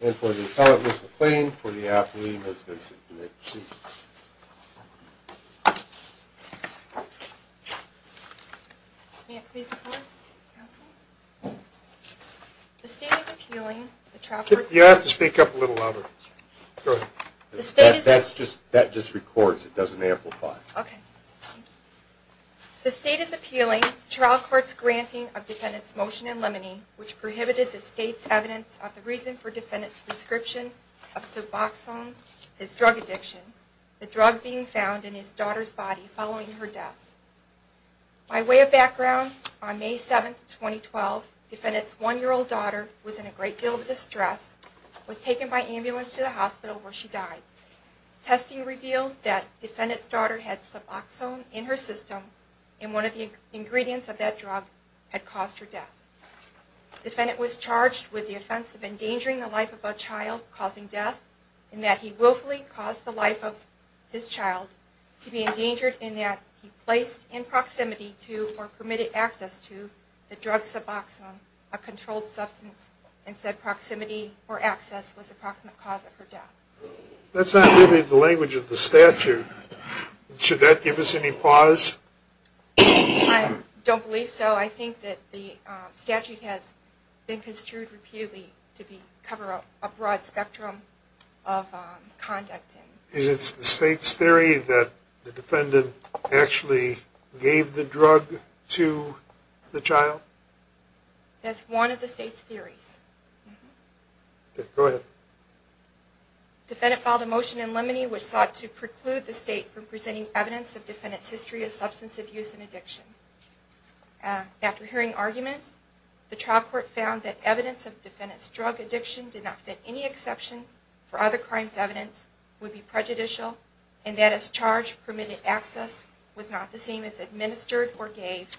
and for the appellate, Ms. McLean, for the athlete, Ms. Vinson, and the chief. You have to speak up a little louder. That just records, it doesn't amplify. The state is appealing trial court's granting of defendant's motion in limine, which prohibited the state's evidence of the reason for defendant's prescription of suboxone, his drug addiction, the drug being found in his daughter's body following her death. By way of background, on May 7, 2012, defendant's one year old daughter was in a great deal of distress, was taken by ambulance to the hospital where she died. Testing revealed that defendant's daughter had suboxone in her system, and one of the ingredients of that drug had caused her death. Defendant was charged with the offense of endangering the life of a child causing death, in that he willfully caused the life of his child to be endangered, in that he placed in proximity to or permitted access to the drug suboxone, a controlled substance, and said proximity or access was the approximate cause of her death. That's not really the language of the statute. Should that give us any pause? I don't believe so. I think that the statute has been construed repeatedly to cover a broad spectrum of conduct. Is it the state's theory that the defendant actually gave the drug to the child? That's one of the state's theories. Go ahead. Defendant filed a motion in limine, which sought to preclude the state from presenting evidence of defendant's history of substance abuse and addiction. After hearing arguments, the trial court found that evidence of defendant's drug addiction did not fit any exception for other crimes evidence would be prejudicial, and that as charged, permitted access was not the same as administered or gave.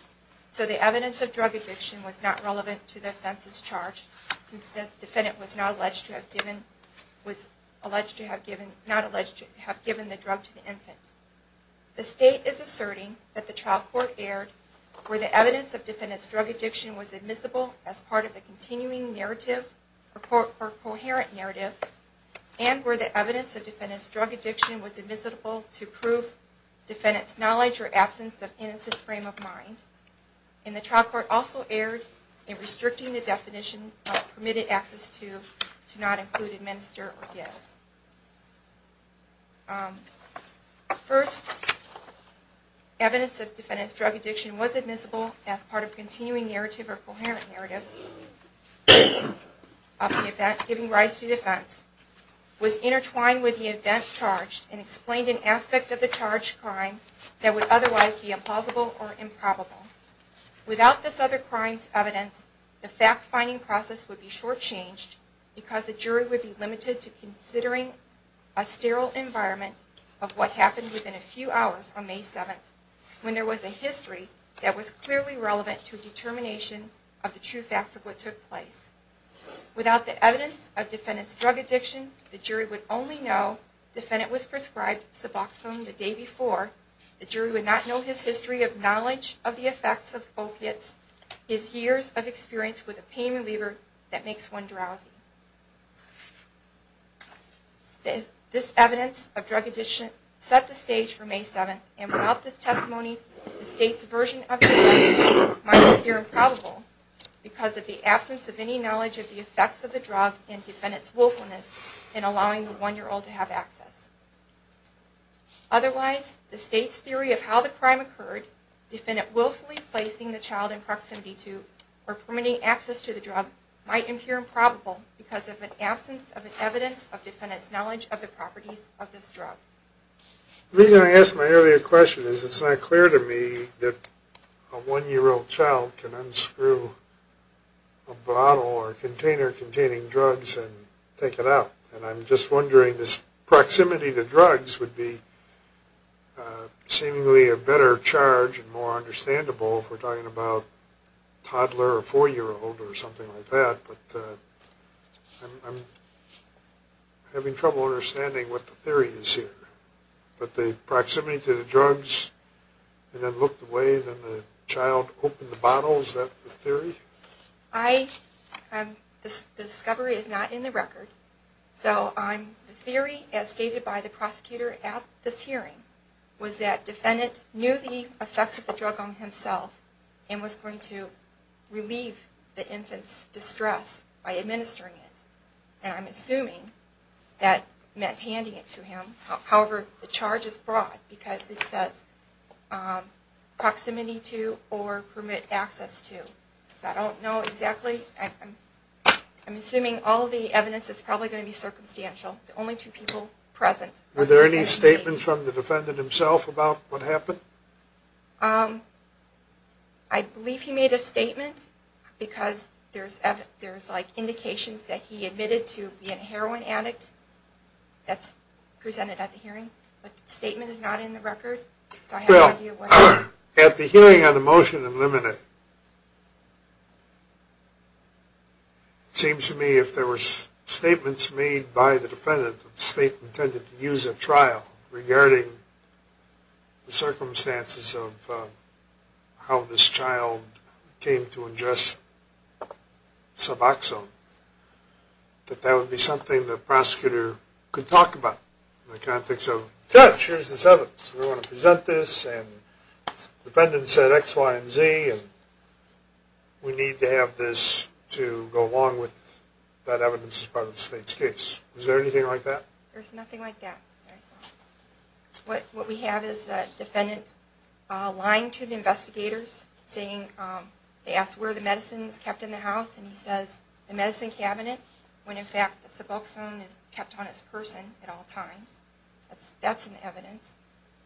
So the evidence of drug addiction was not relevant to the offense as charged, since the defendant was not alleged to have given the drug to the infant. The state is asserting that the trial court erred where the evidence of defendant's drug addiction was admissible as part of the continuing narrative or coherent narrative, and where the evidence of defendant's drug addiction was admissible to prove defendant's knowledge or absence of innocent frame of mind. And the trial court also erred in restricting the definition of permitted access to not include administer or give. The first evidence of defendant's drug addiction was admissible as part of the continuing narrative or coherent narrative of the event giving rise to the offense, was intertwined with the event charged, and explained an aspect of the charged crime that would otherwise be implausible or improbable. Without this other crimes evidence, the fact-finding process would be short-changed because the jury would be limited to considering a sterile environment of what happened within a few hours on May 7th, when there was a history that was clearly relevant to a determination of the true facts of what took place. Without the evidence of defendant's drug addiction, the jury would only know defendant was prescribed Suboxone the day before. The jury would not know his history of knowledge of the effects of opiates, his years of experience with a pain reliever that makes one drowsy. This evidence of drug addiction set the stage for May 7th, and without this testimony, the state's version of the offense might appear improbable because of the absence of any knowledge of the effects of the drug in defendant's willfulness in allowing the one-year-old to have access. Otherwise, the state's theory of how the crime occurred, defendant willfully placing the child in proximity to, or permitting access to the drug, might appear improbable because of an absence of evidence of defendant's knowledge of the properties of this drug. The reason I asked my earlier question is it's not clear to me that a one-year-old child can unscrew a bottle or container containing drugs and take it out. And I'm just wondering, this proximity to drugs would be seemingly a better charge and more understandable if we're talking about a toddler or four-year-old or something like that, but I'm having trouble understanding what the theory is here. The discovery is not in the record, so the theory, as stated by the prosecutor at this hearing, was that defendant knew the effects of the drug on himself and was going to relieve the infant's distress by administering it, and I'm assuming that meant handing it to him. However, the charge is broad because it says proximity to or permit access to. I don't know exactly. I'm assuming all of the evidence is probably going to be circumstantial, only two people present. Were there any statements from the defendant himself about what happened? I believe he made a statement because there's indications that he admitted to being a heroin addict. That's presented at the hearing, but the statement is not in the record. Well, at the hearing on the motion to eliminate, it seems to me if there were statements made by the defendant that the state intended to use at trial regarding the circumstances of how this child came to ingest Suboxone, that that would be something the prosecutor could talk about. I can't think so. Judge, here's this evidence. We want to present this, and the defendant said X, Y, and Z, and we need to have this to go along with that evidence as part of the state's case. Is there anything like that? There's nothing like that. What we have is the defendant lying to the investigators, saying they asked where the medicine was kept in the house, and he says the medicine cabinet, when in fact Suboxone is kept on its person at all times. That's in the evidence.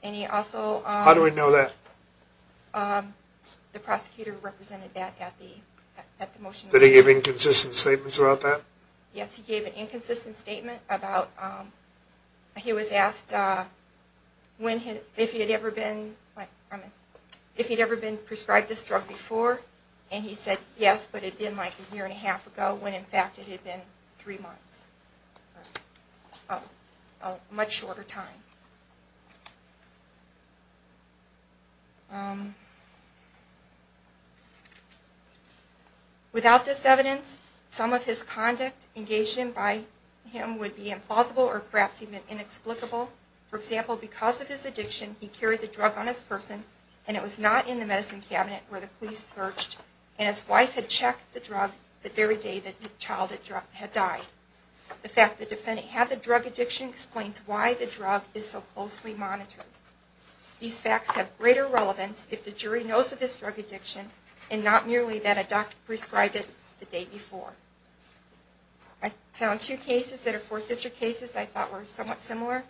How do we know that? The prosecutor represented that at the motion. Did he give inconsistent statements about that? Yes, he gave an inconsistent statement. He was asked if he had ever been prescribed this drug before, and he said yes, but it had been like a year and a half ago, when in fact it had been three months, a much shorter time. Without this evidence, some of his conduct engaged in by him would be implausible, or perhaps even inexplicable. For example, because of his addiction, he carried the drug on his person, and it was not in the medicine cabinet where the police searched, and his wife had checked the drug the very day the child had died. The fact that the defendant had the drug addiction explains why the drug is so closely monitored. These facts have greater relevance if the jury knows of this drug addiction, and not merely that a doctor prescribed it the day before. I found two cases that are Fourth District cases that I thought were somewhat similar.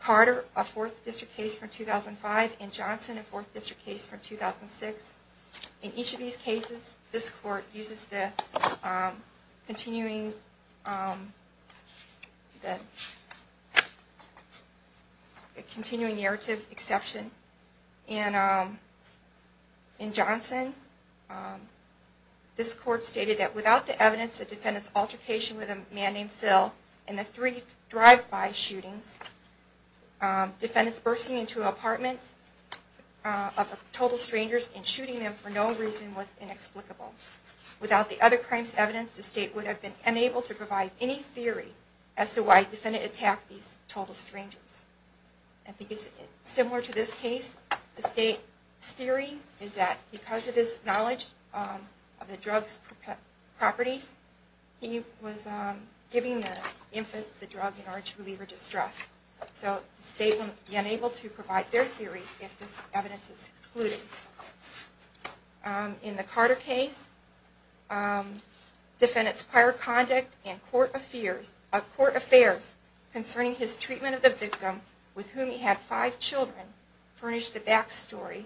Carter, a Fourth District case from 2005, and Johnson, a Fourth District case from 2006. In each of these cases, this court uses the continuing narrative exception. In Johnson, this court stated that without the evidence of the defendant's altercation with a man named Phil, and the three drive-by shootings, the defendant's bursting into an apartment of total strangers and shooting them for no reason was inexplicable. Without the other crimes evidence, the state would have been unable to provide any theory as to why the defendant attacked these total strangers. Similar to this case, the state's theory is that because of his knowledge of the drug's properties, he was giving the infant the drug in order to relieve her distress. So the state would be unable to provide their theory if this evidence is excluded. In the Carter case, the defendant's prior conduct and court affairs concerning his treatment of the victim, with whom he had five children, furnished the backstory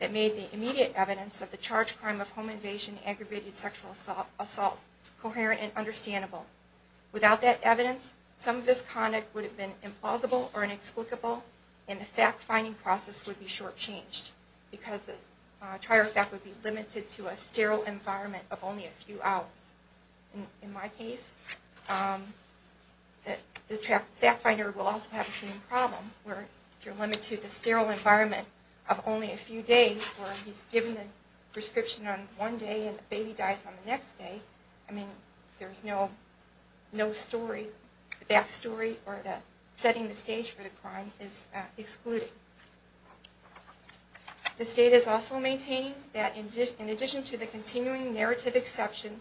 that made the immediate evidence of the charged crime of home invasion and aggravated sexual assault coherent and understandable. Without that evidence, some of his conduct would have been implausible or inexplicable, and the fact-finding process would be shortchanged. Because the trial fact would be limited to a sterile environment of only a few hours. In my case, the fact-finder will also have the same problem, where if you're limited to the sterile environment of only a few days, where he's given the prescription on one day and the baby dies on the next day, I mean, there's no story, the backstory or setting the stage for the crime is excluded. The state is also maintaining that in addition to the continuing narrative exception,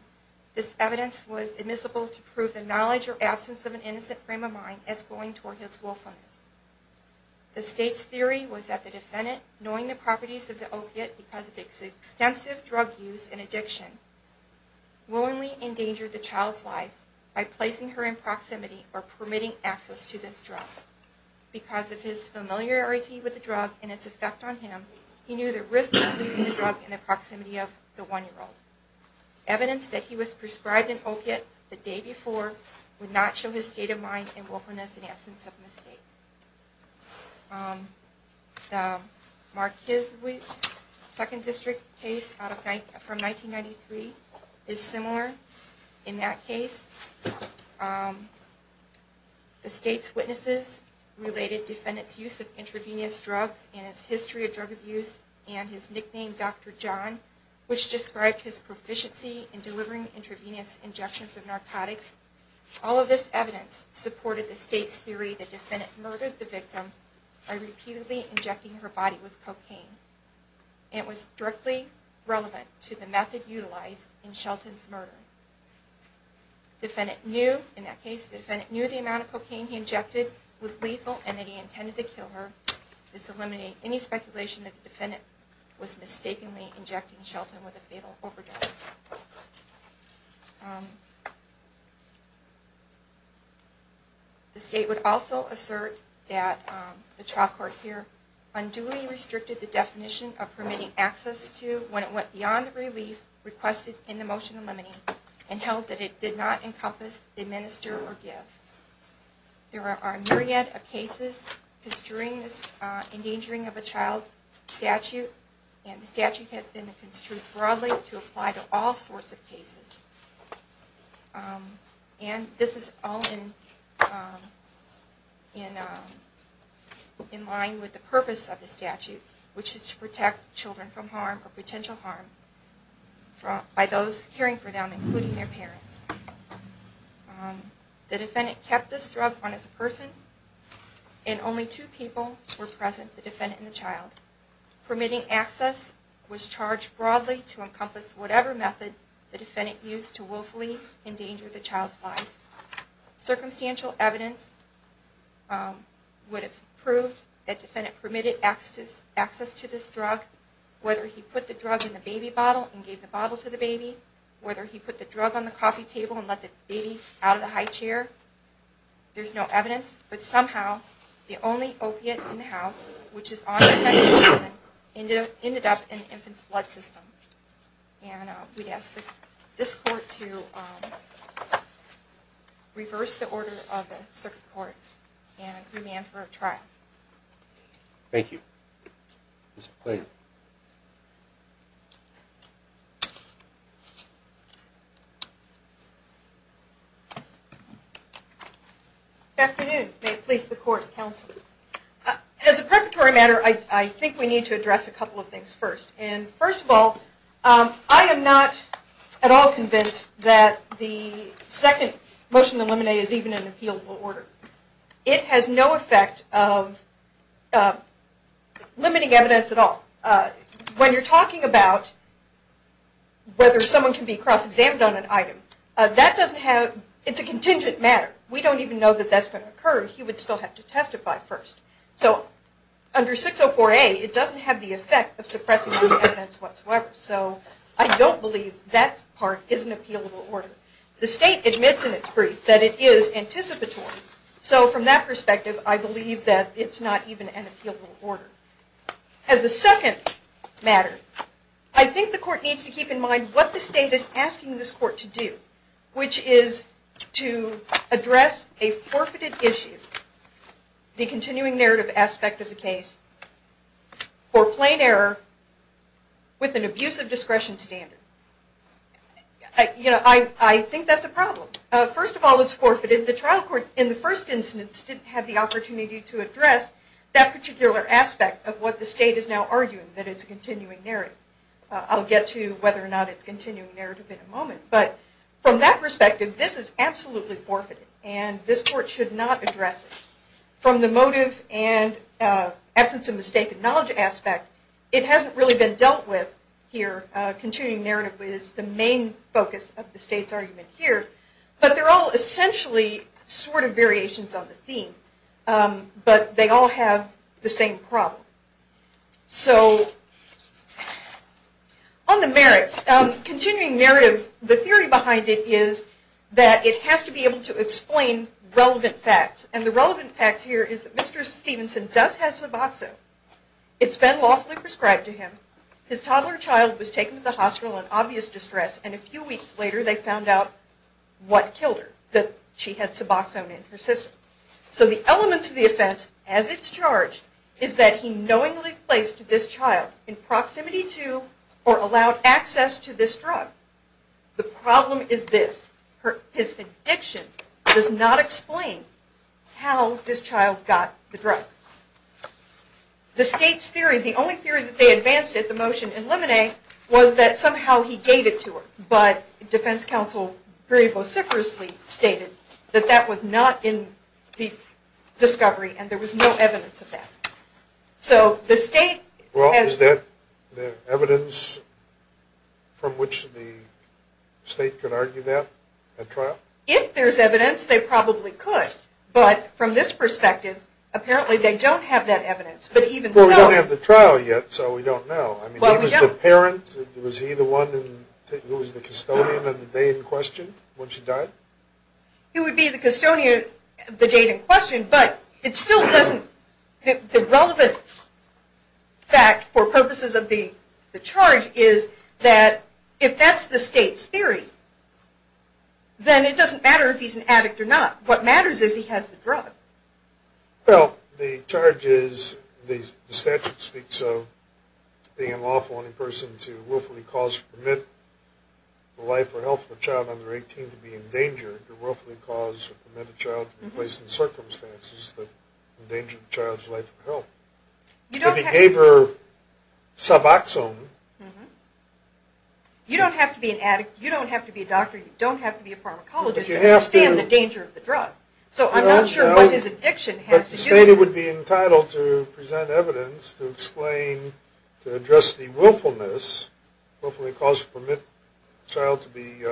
this evidence was admissible to prove the knowledge or absence of an innocent frame of mind as going toward his willfulness. The state's theory was that the defendant, knowing the properties of the opiate because of its extensive drug use and addiction, willingly endangered the child's life by placing her in proximity or permitting access to this drug. Because of his familiarity with the drug and its effect on him, he knew the risk of leaving the drug in the proximity of the one-year-old. Evidence that he was prescribed an opiate the day before would not show his state of mind and willfulness in absence of mistake. The Marquez-Weiss Second District case from 1993 is similar in that case. The state's witnesses related defendant's use of intravenous drugs and his history of drug abuse and his nickname, Dr. John, which described his proficiency in delivering intravenous injections of narcotics. All of this evidence supported the state's theory that the defendant murdered the victim by repeatedly injecting her body with cocaine. It was directly relevant to the method utilized in Shelton's murder. The defendant knew the amount of cocaine he injected was lethal and that he intended to kill her. This eliminated any speculation that the defendant was mistakenly injecting Shelton with a fatal overdose. The state would also assert that the trial court here unduly restricted the definition of permitting access to when it went beyond the relief requested in the motion limiting and held that it did not encompass administer or give. There are a myriad of cases construing this endangering of a child statute and the statute has been construed broadly to apply to all cases. And this is all in line with the purpose of the statute, which is to protect children from harm or potential harm by those caring for them, including their parents. The defendant kept this drug on his person and only two people were present, the defendant and the child. Permitting access was charged broadly to encompass whatever method the defendant used to willfully endanger the child's life. Circumstantial evidence would have proved that the defendant permitted access to this drug, whether he put the drug in the baby bottle and gave the bottle to the baby, whether he put the drug on the coffee table and let the baby out of the high chair. There's no evidence, but somehow the only opiate in the house, which is on the defendant's person, ended up in the infant's blood system. And we'd ask this court to reverse the order of the circuit court and remand for a trial. Thank you. Good afternoon. May it please the court and counsel. As a preparatory matter, I think we need to address a couple of things first. And first of all, I am not at all convinced that the second motion to eliminate is even an appealable order. It has no effect of limiting evidence at all. When you're talking about whether someone can be cross-examined on an item, it's a contingent matter. We don't even know that that's going to occur. He would still have to testify first. So under 604A, it doesn't have the effect of suppressing the evidence whatsoever. So I don't believe that part is an appealable order. The state admits in its brief that it is anticipatory. So from that perspective, I believe that it's not even an appealable order. As a second matter, I think the court needs to keep in mind what the state is asking this court to do, which is to address a forfeited issue, the continuing narrative aspect of the case, for plain error with an abuse of discretion standard. I think that's a problem. First of all, it's forfeited. The trial court, in the first instance, didn't have the opportunity to address that particular aspect of what the state is now arguing, that it's a continuing narrative. I'll get to whether or not it's a continuing narrative in a moment. But from that perspective, this is absolutely forfeited, and this court should not address it. From the motive and absence of mistaken knowledge aspect, it hasn't really been dealt with here. Continuing narrative is the main focus of the state's argument here. But they're all essentially sort of variations on the theme. But they all have the same problem. So on the merits, continuing narrative, the theory behind it is that it has to be able to explain relevant facts. And the relevant facts here is that Mr. Stevenson does have suboxone. It's been lawfully prescribed to him. His toddler child was taken to the hospital in obvious distress. And a few weeks later, they found out what killed her, that she had suboxone in her system. So the elements of the offense, as it's charged, is that he knowingly placed this child in proximity to or allowed access to this drug. The problem is this. His addiction does not explain how this child got the drugs. The state's theory, the only theory that they advanced at the motion in Lemonet, was that somehow he gave it to her. But defense counsel very vociferously stated that that was not in the discovery, and there was no evidence of that. So the state has... Well, is there evidence from which the state could argue that at trial? If there's evidence, they probably could. But from this perspective, apparently they don't have that evidence. But even so... Well, we don't have the trial yet, so we don't know. He was the parent. Was he the one who was the custodian of the date in question when she died? He would be the custodian of the date in question. But it still doesn't... The relevant fact for purposes of the charge is that if that's the state's theory, then it doesn't matter if he's an addict or not. What matters is he has the drug. Well, the charge is, the statute speaks of being a lawful only person to willfully cause or permit the life or health of a child under 18 to be in danger, to willfully cause or permit a child to be placed in circumstances that endanger the child's life or health. If he gave her Suboxone... You don't have to be an addict. You don't have to be a doctor. You don't have to be a pharmacologist to understand the danger of the drug. So I'm not sure what his addiction has to do with... But the state would be entitled to present evidence to explain, to address the willfulness, willfully cause or permit a child to be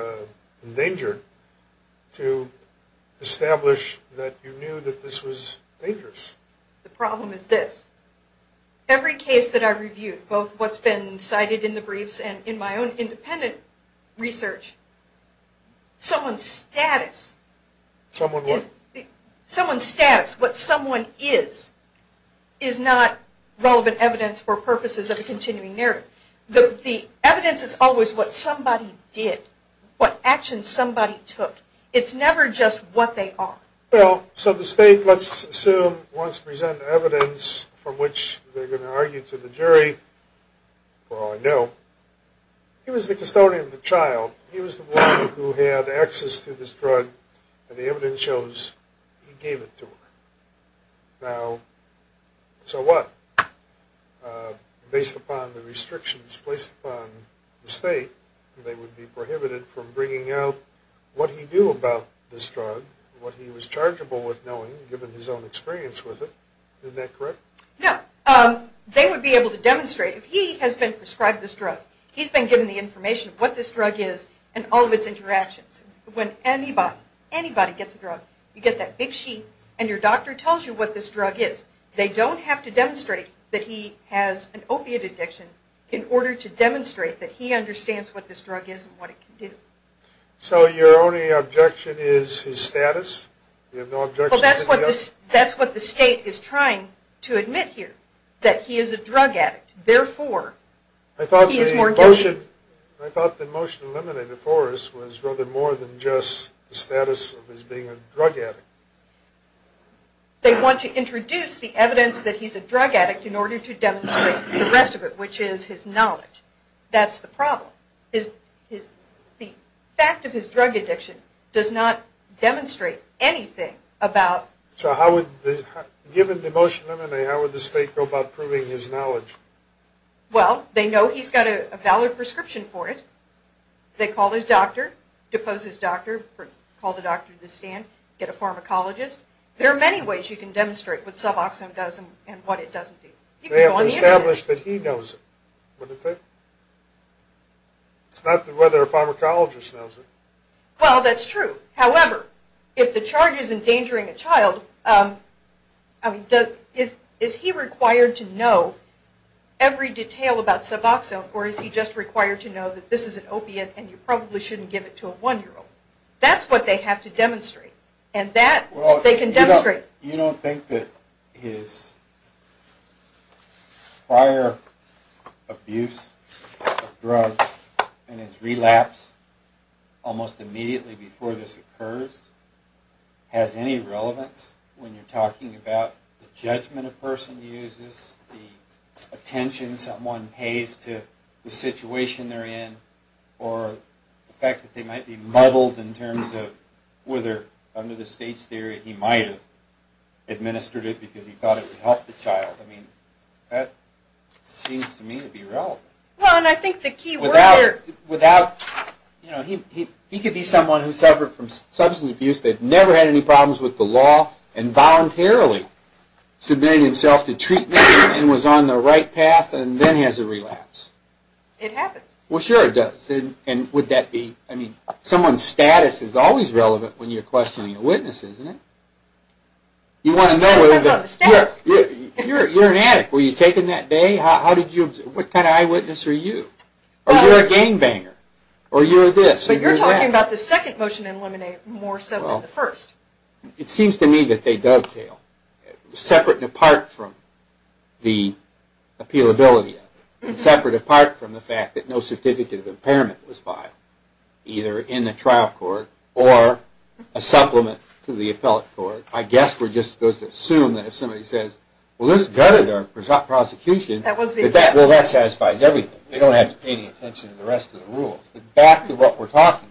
endangered, to establish that you knew that this was dangerous. The problem is this. Every case that I've reviewed, both what's been cited in the briefs and in my own independent research, someone's status... Someone what? Someone's status, what someone is, is not relevant evidence for purposes of a continuing narrative. The evidence is always what somebody did, what actions somebody took. It's never just what they are. So the state, let's assume, wants to present evidence from which they're going to argue to the jury, for all I know, he was the custodian of the child. He was the one who had access to this drug, and the evidence shows he gave it to her. Now, so what? Based upon the restrictions placed upon the state, they would be prohibited from bringing out what he knew about this drug, what he was chargeable with knowing, given his own experience with it. Isn't that correct? No. They would be able to demonstrate, if he has been prescribed this drug, he's been given the information of what this drug is, and all of its interactions. When anybody, anybody gets a drug, you get that big sheet, and your doctor tells you what this drug is. They don't have to demonstrate that he has an opiate addiction in order to demonstrate that he understands what this drug is and what it can do. So your only objection is his status? Well, that's what the state is trying to admit here, that he is a drug addict. Therefore, he is more guilty. I thought the motion eliminated for us was rather more than just the status of his being a drug addict. They want to introduce the evidence that he's a drug addict in order to demonstrate the rest of it, which is his knowledge. That's the problem. The fact of his drug addiction does not demonstrate anything about... So given the motion eliminated, how would the state go about proving his knowledge? Well, they know he's got a valid prescription for it. They call his doctor, depose his doctor, call the doctor to the stand, get a pharmacologist. There are many ways you can demonstrate what Suboxone does and what it doesn't do. They have established that he knows it. It's not whether a pharmacologist knows it. Well, that's true. However, if the charge is endangering a child, is he required to know every detail about Suboxone, or is he just required to know that this is an opiate and you probably shouldn't give it to a one-year-old? That's what they have to demonstrate, and that they can demonstrate. You don't think that his prior abuse of drugs and his relapse almost immediately before this occurs has any relevance when you're talking about the judgment a person uses, the attention someone pays to the situation they're in, or the fact that they might be muddled in terms of whether under the state's theory he might have administered it because he thought it would help the child. I mean, that seems to me to be relevant. Well, and I think the key word there... Without... He could be someone who suffered from substance abuse, that never had any problems with the law, and voluntarily submitted himself to treatment and was on the right path and then has a relapse. It happens. Well, sure it does. And would that be... Someone's status is always relevant when you're questioning a witness, isn't it? You want to know whether... It depends on the status. You're an addict. Were you taken that day? How did you... What kind of eyewitness are you? Or you're a gangbanger. Or you're this, or you're that. But you're talking about the second motion in Lemonade more so than the first. It seems to me that they dovetail, separate and apart from the appealability of it, and separate and apart from the fact that no certificate of impairment was filed, either in the trial court or a supplement to the appellate court. I guess we're just supposed to assume that if somebody says, well, this gutted our prosecution, that that satisfies everything. They don't have to pay any attention to the rest of the rules. But back to what we're talking about.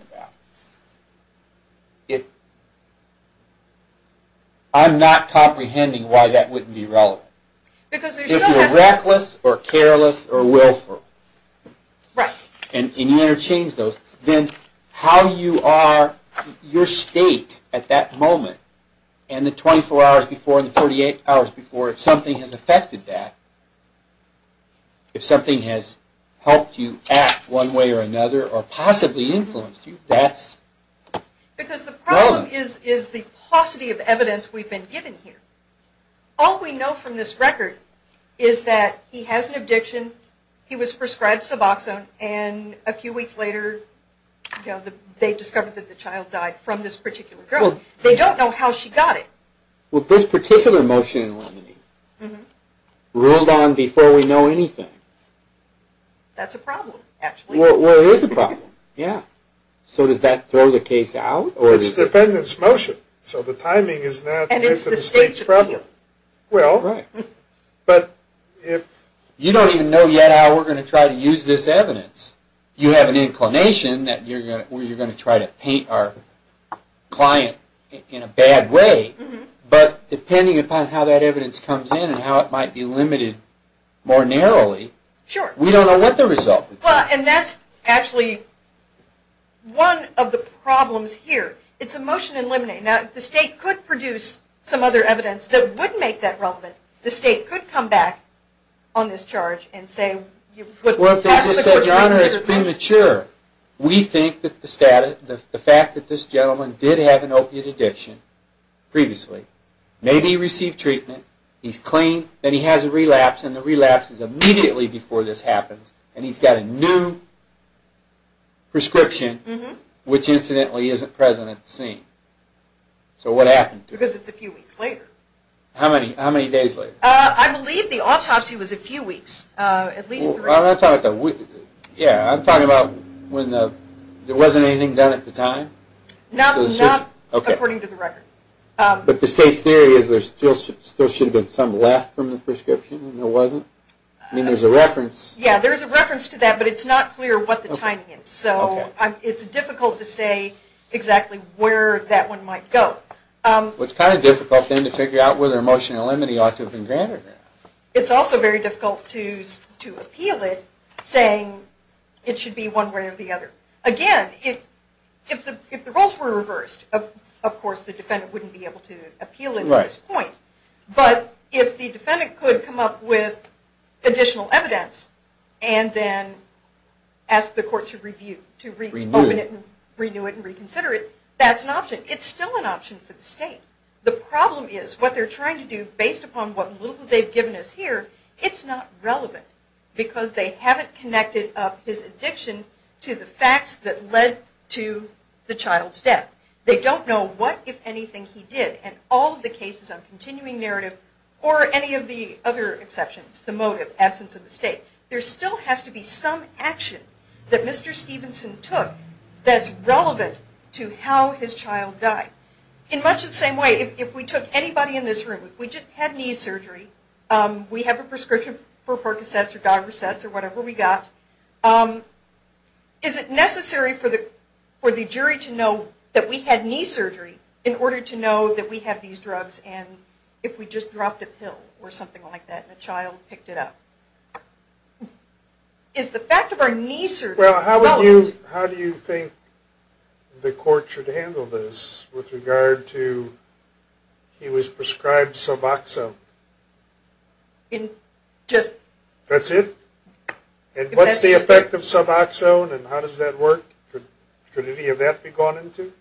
I'm not comprehending why that wouldn't be relevant. If you're reckless or careless or willful, and you interchange those, then how you are, your state at that moment, and the 24 hours before and the 48 hours before, if something has affected that, if something has helped you act one way or another, or possibly influenced you, that's relevant. Because the problem is the paucity of evidence we've been given here. All we know from this record is that he has an addiction, he was prescribed Suboxone, and a few weeks later, they discovered that the child died from this particular drug. They don't know how she got it. Well, this particular motion in Lemony ruled on before we know anything. That's a problem, actually. Well, it is a problem, yeah. So does that throw the case out? It's the defendant's motion, so the timing is not the state's problem. And it's the state's problem. Right. But if... You don't even know yet how we're going to try to use this evidence. You have an inclination that you're going to try to paint our client in a bad way, but depending upon how that evidence comes in and how it might be limited more narrowly, we don't know what the result will be. And that's actually one of the problems here. It's a motion in Lemony. Now, if the state could produce some other evidence that would make that relevant, the state could come back on this charge and say... Well, if they just said, Your Honor, it's premature. We think that the fact that this gentleman did have an opiate addiction previously, maybe he received treatment, he's clean, then he has a relapse, and the relapse is immediately before this happens, and he's got a new prescription, which incidentally isn't present at the scene. So what happened to it? Because it's a few weeks later. How many days later? I believe the autopsy was a few weeks. At least three. Yeah, I'm talking about when there wasn't anything done at the time. Not according to the record. But the state's theory is there still should have been some left from the prescription, and there wasn't? I mean, there's a reference. Yeah, there's a reference to that, but it's not clear what the timing is. So it's difficult to say exactly where that one might go. Well, it's kind of difficult then to figure out whether emotional enmity ought to have been granted or not. It's also very difficult to appeal it, saying it should be one way or the other. Again, if the roles were reversed, of course the defendant wouldn't be able to appeal it at this point. But if the defendant could come up with additional evidence and then ask the court to review it and reconsider it, that's an option. It's still an option for the state. The problem is what they're trying to do, based upon what little they've given us here, it's not relevant because they haven't connected up his addiction to the facts that led to the child's death. They don't know what, if anything, he did, and all of the cases on continuing narrative or any of the other exceptions, the motive, absence of the state, there still has to be some action that Mr. Stevenson took that's relevant to how his child died. In much the same way, if we took anybody in this room, if we just had knee surgery, we have a prescription for Percocets or Dogersets or whatever we got, is it necessary for the jury to know that we had knee surgery in order to know that we have these drugs and if we just dropped a pill or something like that and a child picked it up? Is the fact of our knee surgery relevant? Well, how do you think the court should handle this with regard to he was prescribed Suboxone? That's it? And what's the effect of Suboxone and how does that work? Could any of that be gone into?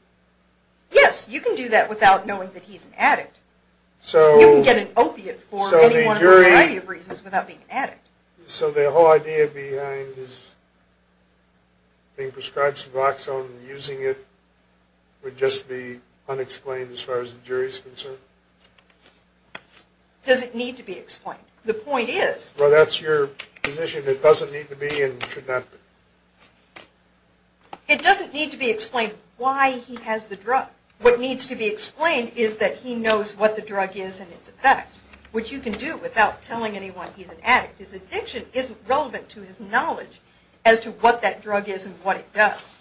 Yes, you can do that without knowing that he's an addict. You can get an opiate for any one of the variety of reasons without being an addict. So the whole idea behind his being prescribed Suboxone and using it would just be unexplained as far as the jury is concerned? It doesn't need to be explained. The point is... Well, that's your position. It doesn't need to be and should not be. It doesn't need to be explained why he has the drug. What needs to be explained is that he knows what the drug is and its effects, which you can do without telling anyone he's an addict. His addiction isn't relevant to his knowledge as to what that drug is and what it does.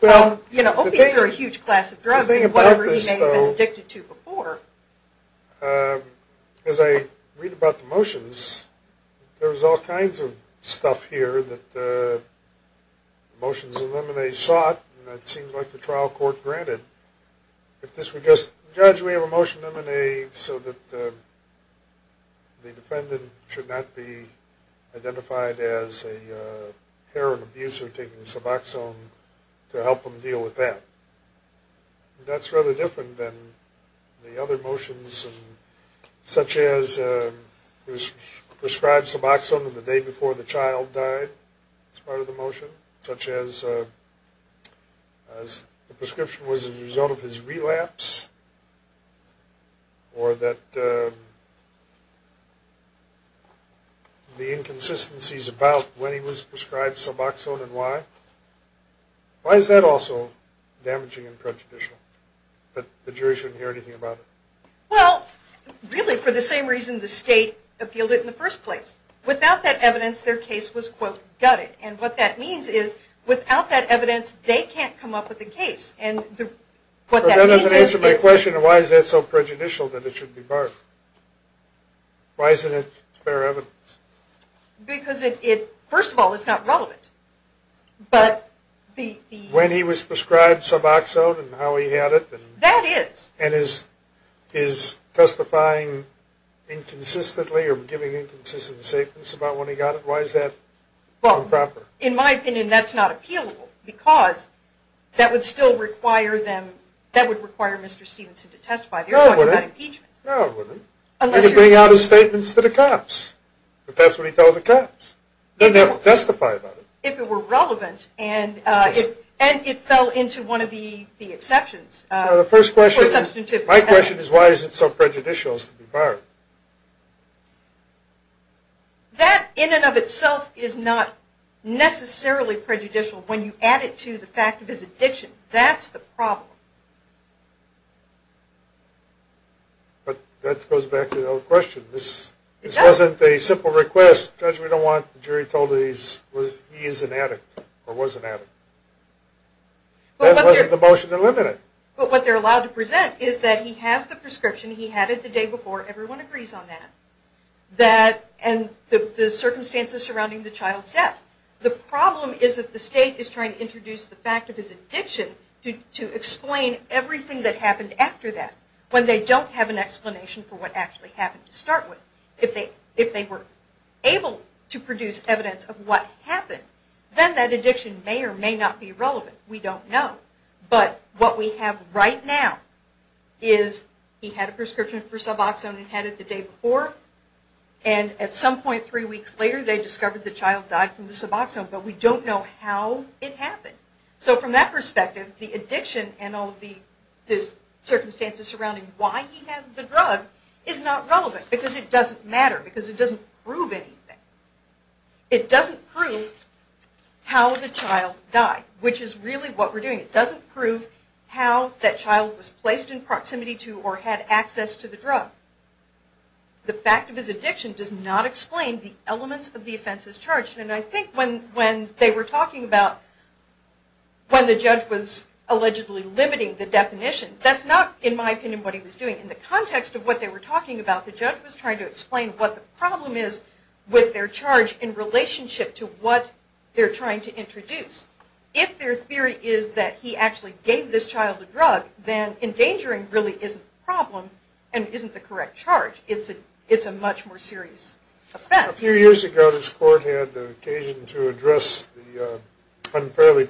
Well, you know, opiates are a huge class of drugs and whatever he may have been addicted to before... As I read about the motions, there's all kinds of stuff here that motions of M&A sought and it seems like the trial court granted. If this were just, Judge, we have a motion of M&A so that the defendant should not be identified as a heroin abuser taking Suboxone to help him deal with that. That's rather different than the other motions such as he was prescribed Suboxone the day before the child died. That's part of the motion. Such as the prescription was a result of his relapse or that the inconsistencies about when he was prescribed Suboxone and why. Why is that also damaging and prejudicial that the jury shouldn't hear anything about it? Well, really for the same reason the state appealed it in the first place. Without that evidence, their case was, quote, gutted. And what that means is without that evidence, they can't come up with a case. But that doesn't answer my question. Why is that so prejudicial that it should be barred? Why isn't it fair evidence? Because it, first of all, is not relevant. When he was prescribed Suboxone and how he had it? That is. And is testifying inconsistently or giving inconsistent statements about when he got it? Why is that improper? In my opinion, that's not appealable because that would require Mr. Stevenson to testify. No, it wouldn't. He could bring out his statements to the cops. But that's what he tells the cops. They'd have to testify about it. If it were relevant. And it fell into one of the exceptions. My question is why is it so prejudicial as to be barred? That in and of itself is not necessarily prejudicial when you add it to the fact of his addiction. That's the problem. But that goes back to the other question. This wasn't a simple request. Judge, we don't want the jury told that he is an addict or was an addict. That wasn't the motion to limit it. But what they're allowed to present is that he has the prescription. He had it the day before. Everyone agrees on that. And the circumstances surrounding the child's death. The problem is that the state is trying to introduce the fact of his addiction to explain everything that happened after that when they don't have an explanation for what actually happened to start with. If they were able to produce evidence of what happened, then that addiction may or may not be relevant. We don't know. But what we have right now is he had a prescription for Suboxone and had it the day before. And at some point three weeks later, they discovered the child died from the Suboxone. But we don't know how it happened. So from that perspective, the addiction and all of the circumstances surrounding why he has the drug is not relevant. Because it doesn't matter. Because it doesn't prove anything. It doesn't prove how the child died. Which is really what we're doing. It doesn't prove how that child was placed in proximity to or had access to the drug. The fact of his addiction does not explain the elements of the offenses charged. And I think when they were talking about when the judge was allegedly limiting the definition, that's not, in my opinion, what he was doing. In the context of what they were talking about, the judge was trying to explain what the problem is with their charge in relationship to what they're trying to introduce. If their theory is that he actually gave this child the drug, then endangering really isn't the problem and isn't the correct charge. It's a much more serious offense. A few years ago, this court had the occasion to address the unfairly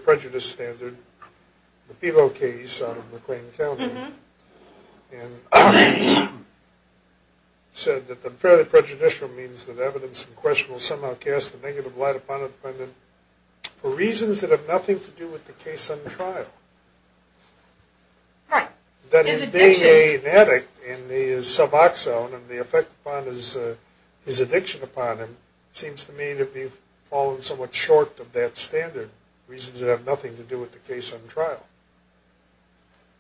prejudicial means that evidence in question will somehow cast a negative light upon a defendant for reasons that have nothing to do with the case on trial. Right. That his being an addict and his suboxone and the effect upon his addiction upon him seems to me to be falling somewhat short of that standard, reasons that have nothing to do with the case on trial.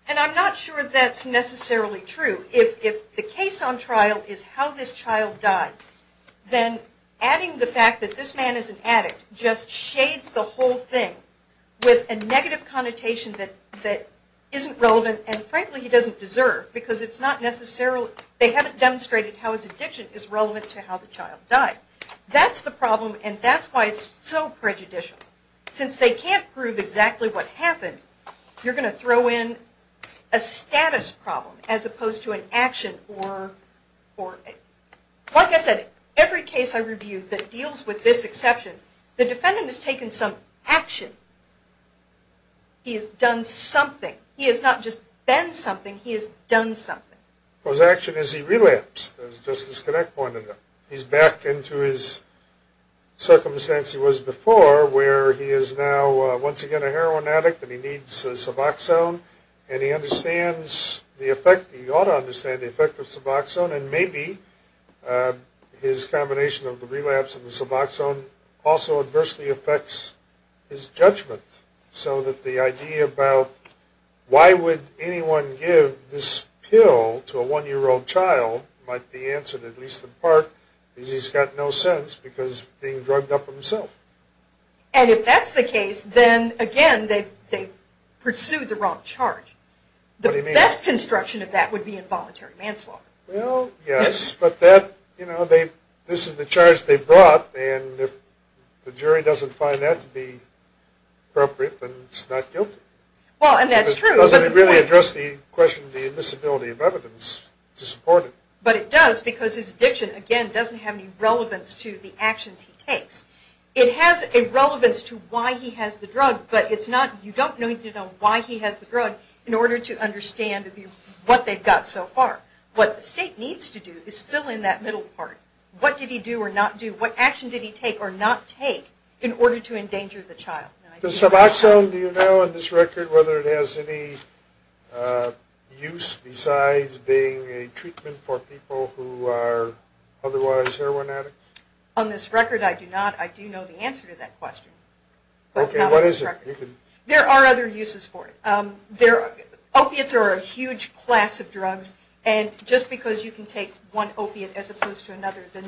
And I'm not sure that's necessarily true. If the case on trial is how this child died, then adding the fact that this man is an addict just shades the whole thing with a negative connotation that isn't relevant and, frankly, he doesn't deserve because it's not necessarily, they haven't demonstrated how his addiction is relevant to how the child died. That's the problem and that's why it's so prejudicial. Since they can't prove exactly what happened, you're going to throw in a status problem as opposed to an action. Like I said, every case I review that deals with this exception, the defendant has taken some action. He has done something. He has not just been something, he has done something. His action is he relapsed, as Justice Connick pointed out. He's back into his circumstance he was before where he is now once again a child who needs Suboxone and he understands the effect, he ought to understand the effect of Suboxone and maybe his combination of the relapse and the Suboxone also adversely affects his judgment. So that the idea about why would anyone give this pill to a one-year-old child might be answered at least in part because he's got no sense because he's being drugged up himself. And if that's the case, then again, they've pursued the wrong charge. The best construction of that would be involuntary manslaughter. Well, yes, but this is the charge they've brought and if the jury doesn't find that to be appropriate, then it's not guilty. Well, and that's true. Because it doesn't really address the question of the admissibility of But it does because his addiction, again, doesn't have any relevance to the actions he takes. It has a relevance to why he has the drug, but you don't need to know why he has the drug in order to understand what they've got so far. What the state needs to do is fill in that middle part. What did he do or not do? What action did he take or not take in order to endanger the child? Does Suboxone, do you know on this record, whether it has any use besides being a treatment for people who are otherwise heroin addicts? On this record, I do not. I do know the answer to that question. Okay, what is it? There are other uses for it. Opiates are a huge class of drugs and just because you can take one opiate as opposed to another, the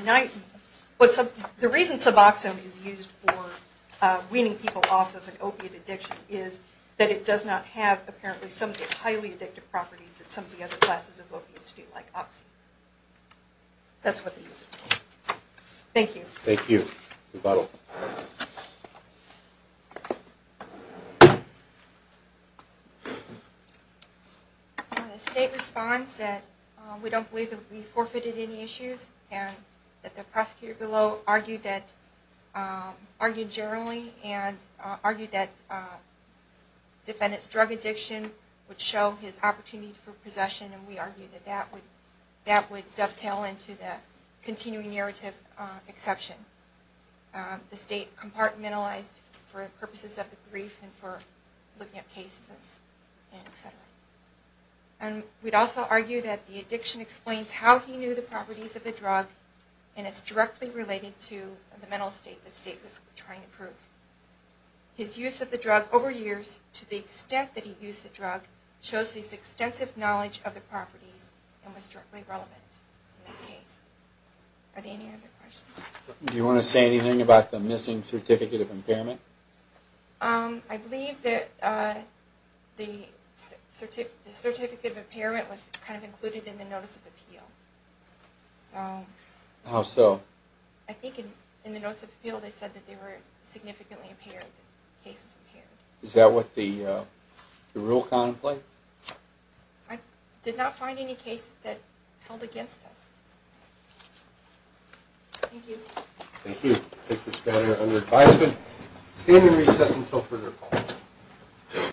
reason Suboxone is used for weaning people off of an opiate addiction is that it does not have, apparently, some of the highly addictive properties that some of the other classes of opiates do, like Oxy. That's what the uses are. Thank you. Thank you. Rebuttal. The state responds that we don't believe that we forfeited any issues and that the prosecutor below argued generally and argued that defendants' drug addiction would show his opportunity for possession and we argued that that would dovetail into the continuing narrative exception. The state compartmentalized for purposes of the brief and for looking at cases and et cetera. And we'd also argue that the addiction explains how he knew the properties of the drug and it's directly related to the mental state the state was trying to prove. His use of the drug over years, to the extent that he used the drug, shows his extensive knowledge of the properties and was directly relevant in this case. Are there any other questions? Do you want to say anything about the missing Certificate of Impairment? I believe that the Certificate of Impairment was kind of included in the Notice of Appeal. How so? I think in the Notice of Appeal they said that they were significantly impaired if the case was impaired. Is that what the rule contemplates? I did not find any cases that held against us. Thank you. Thank you. I take this matter under advisement. Standing recess until further call.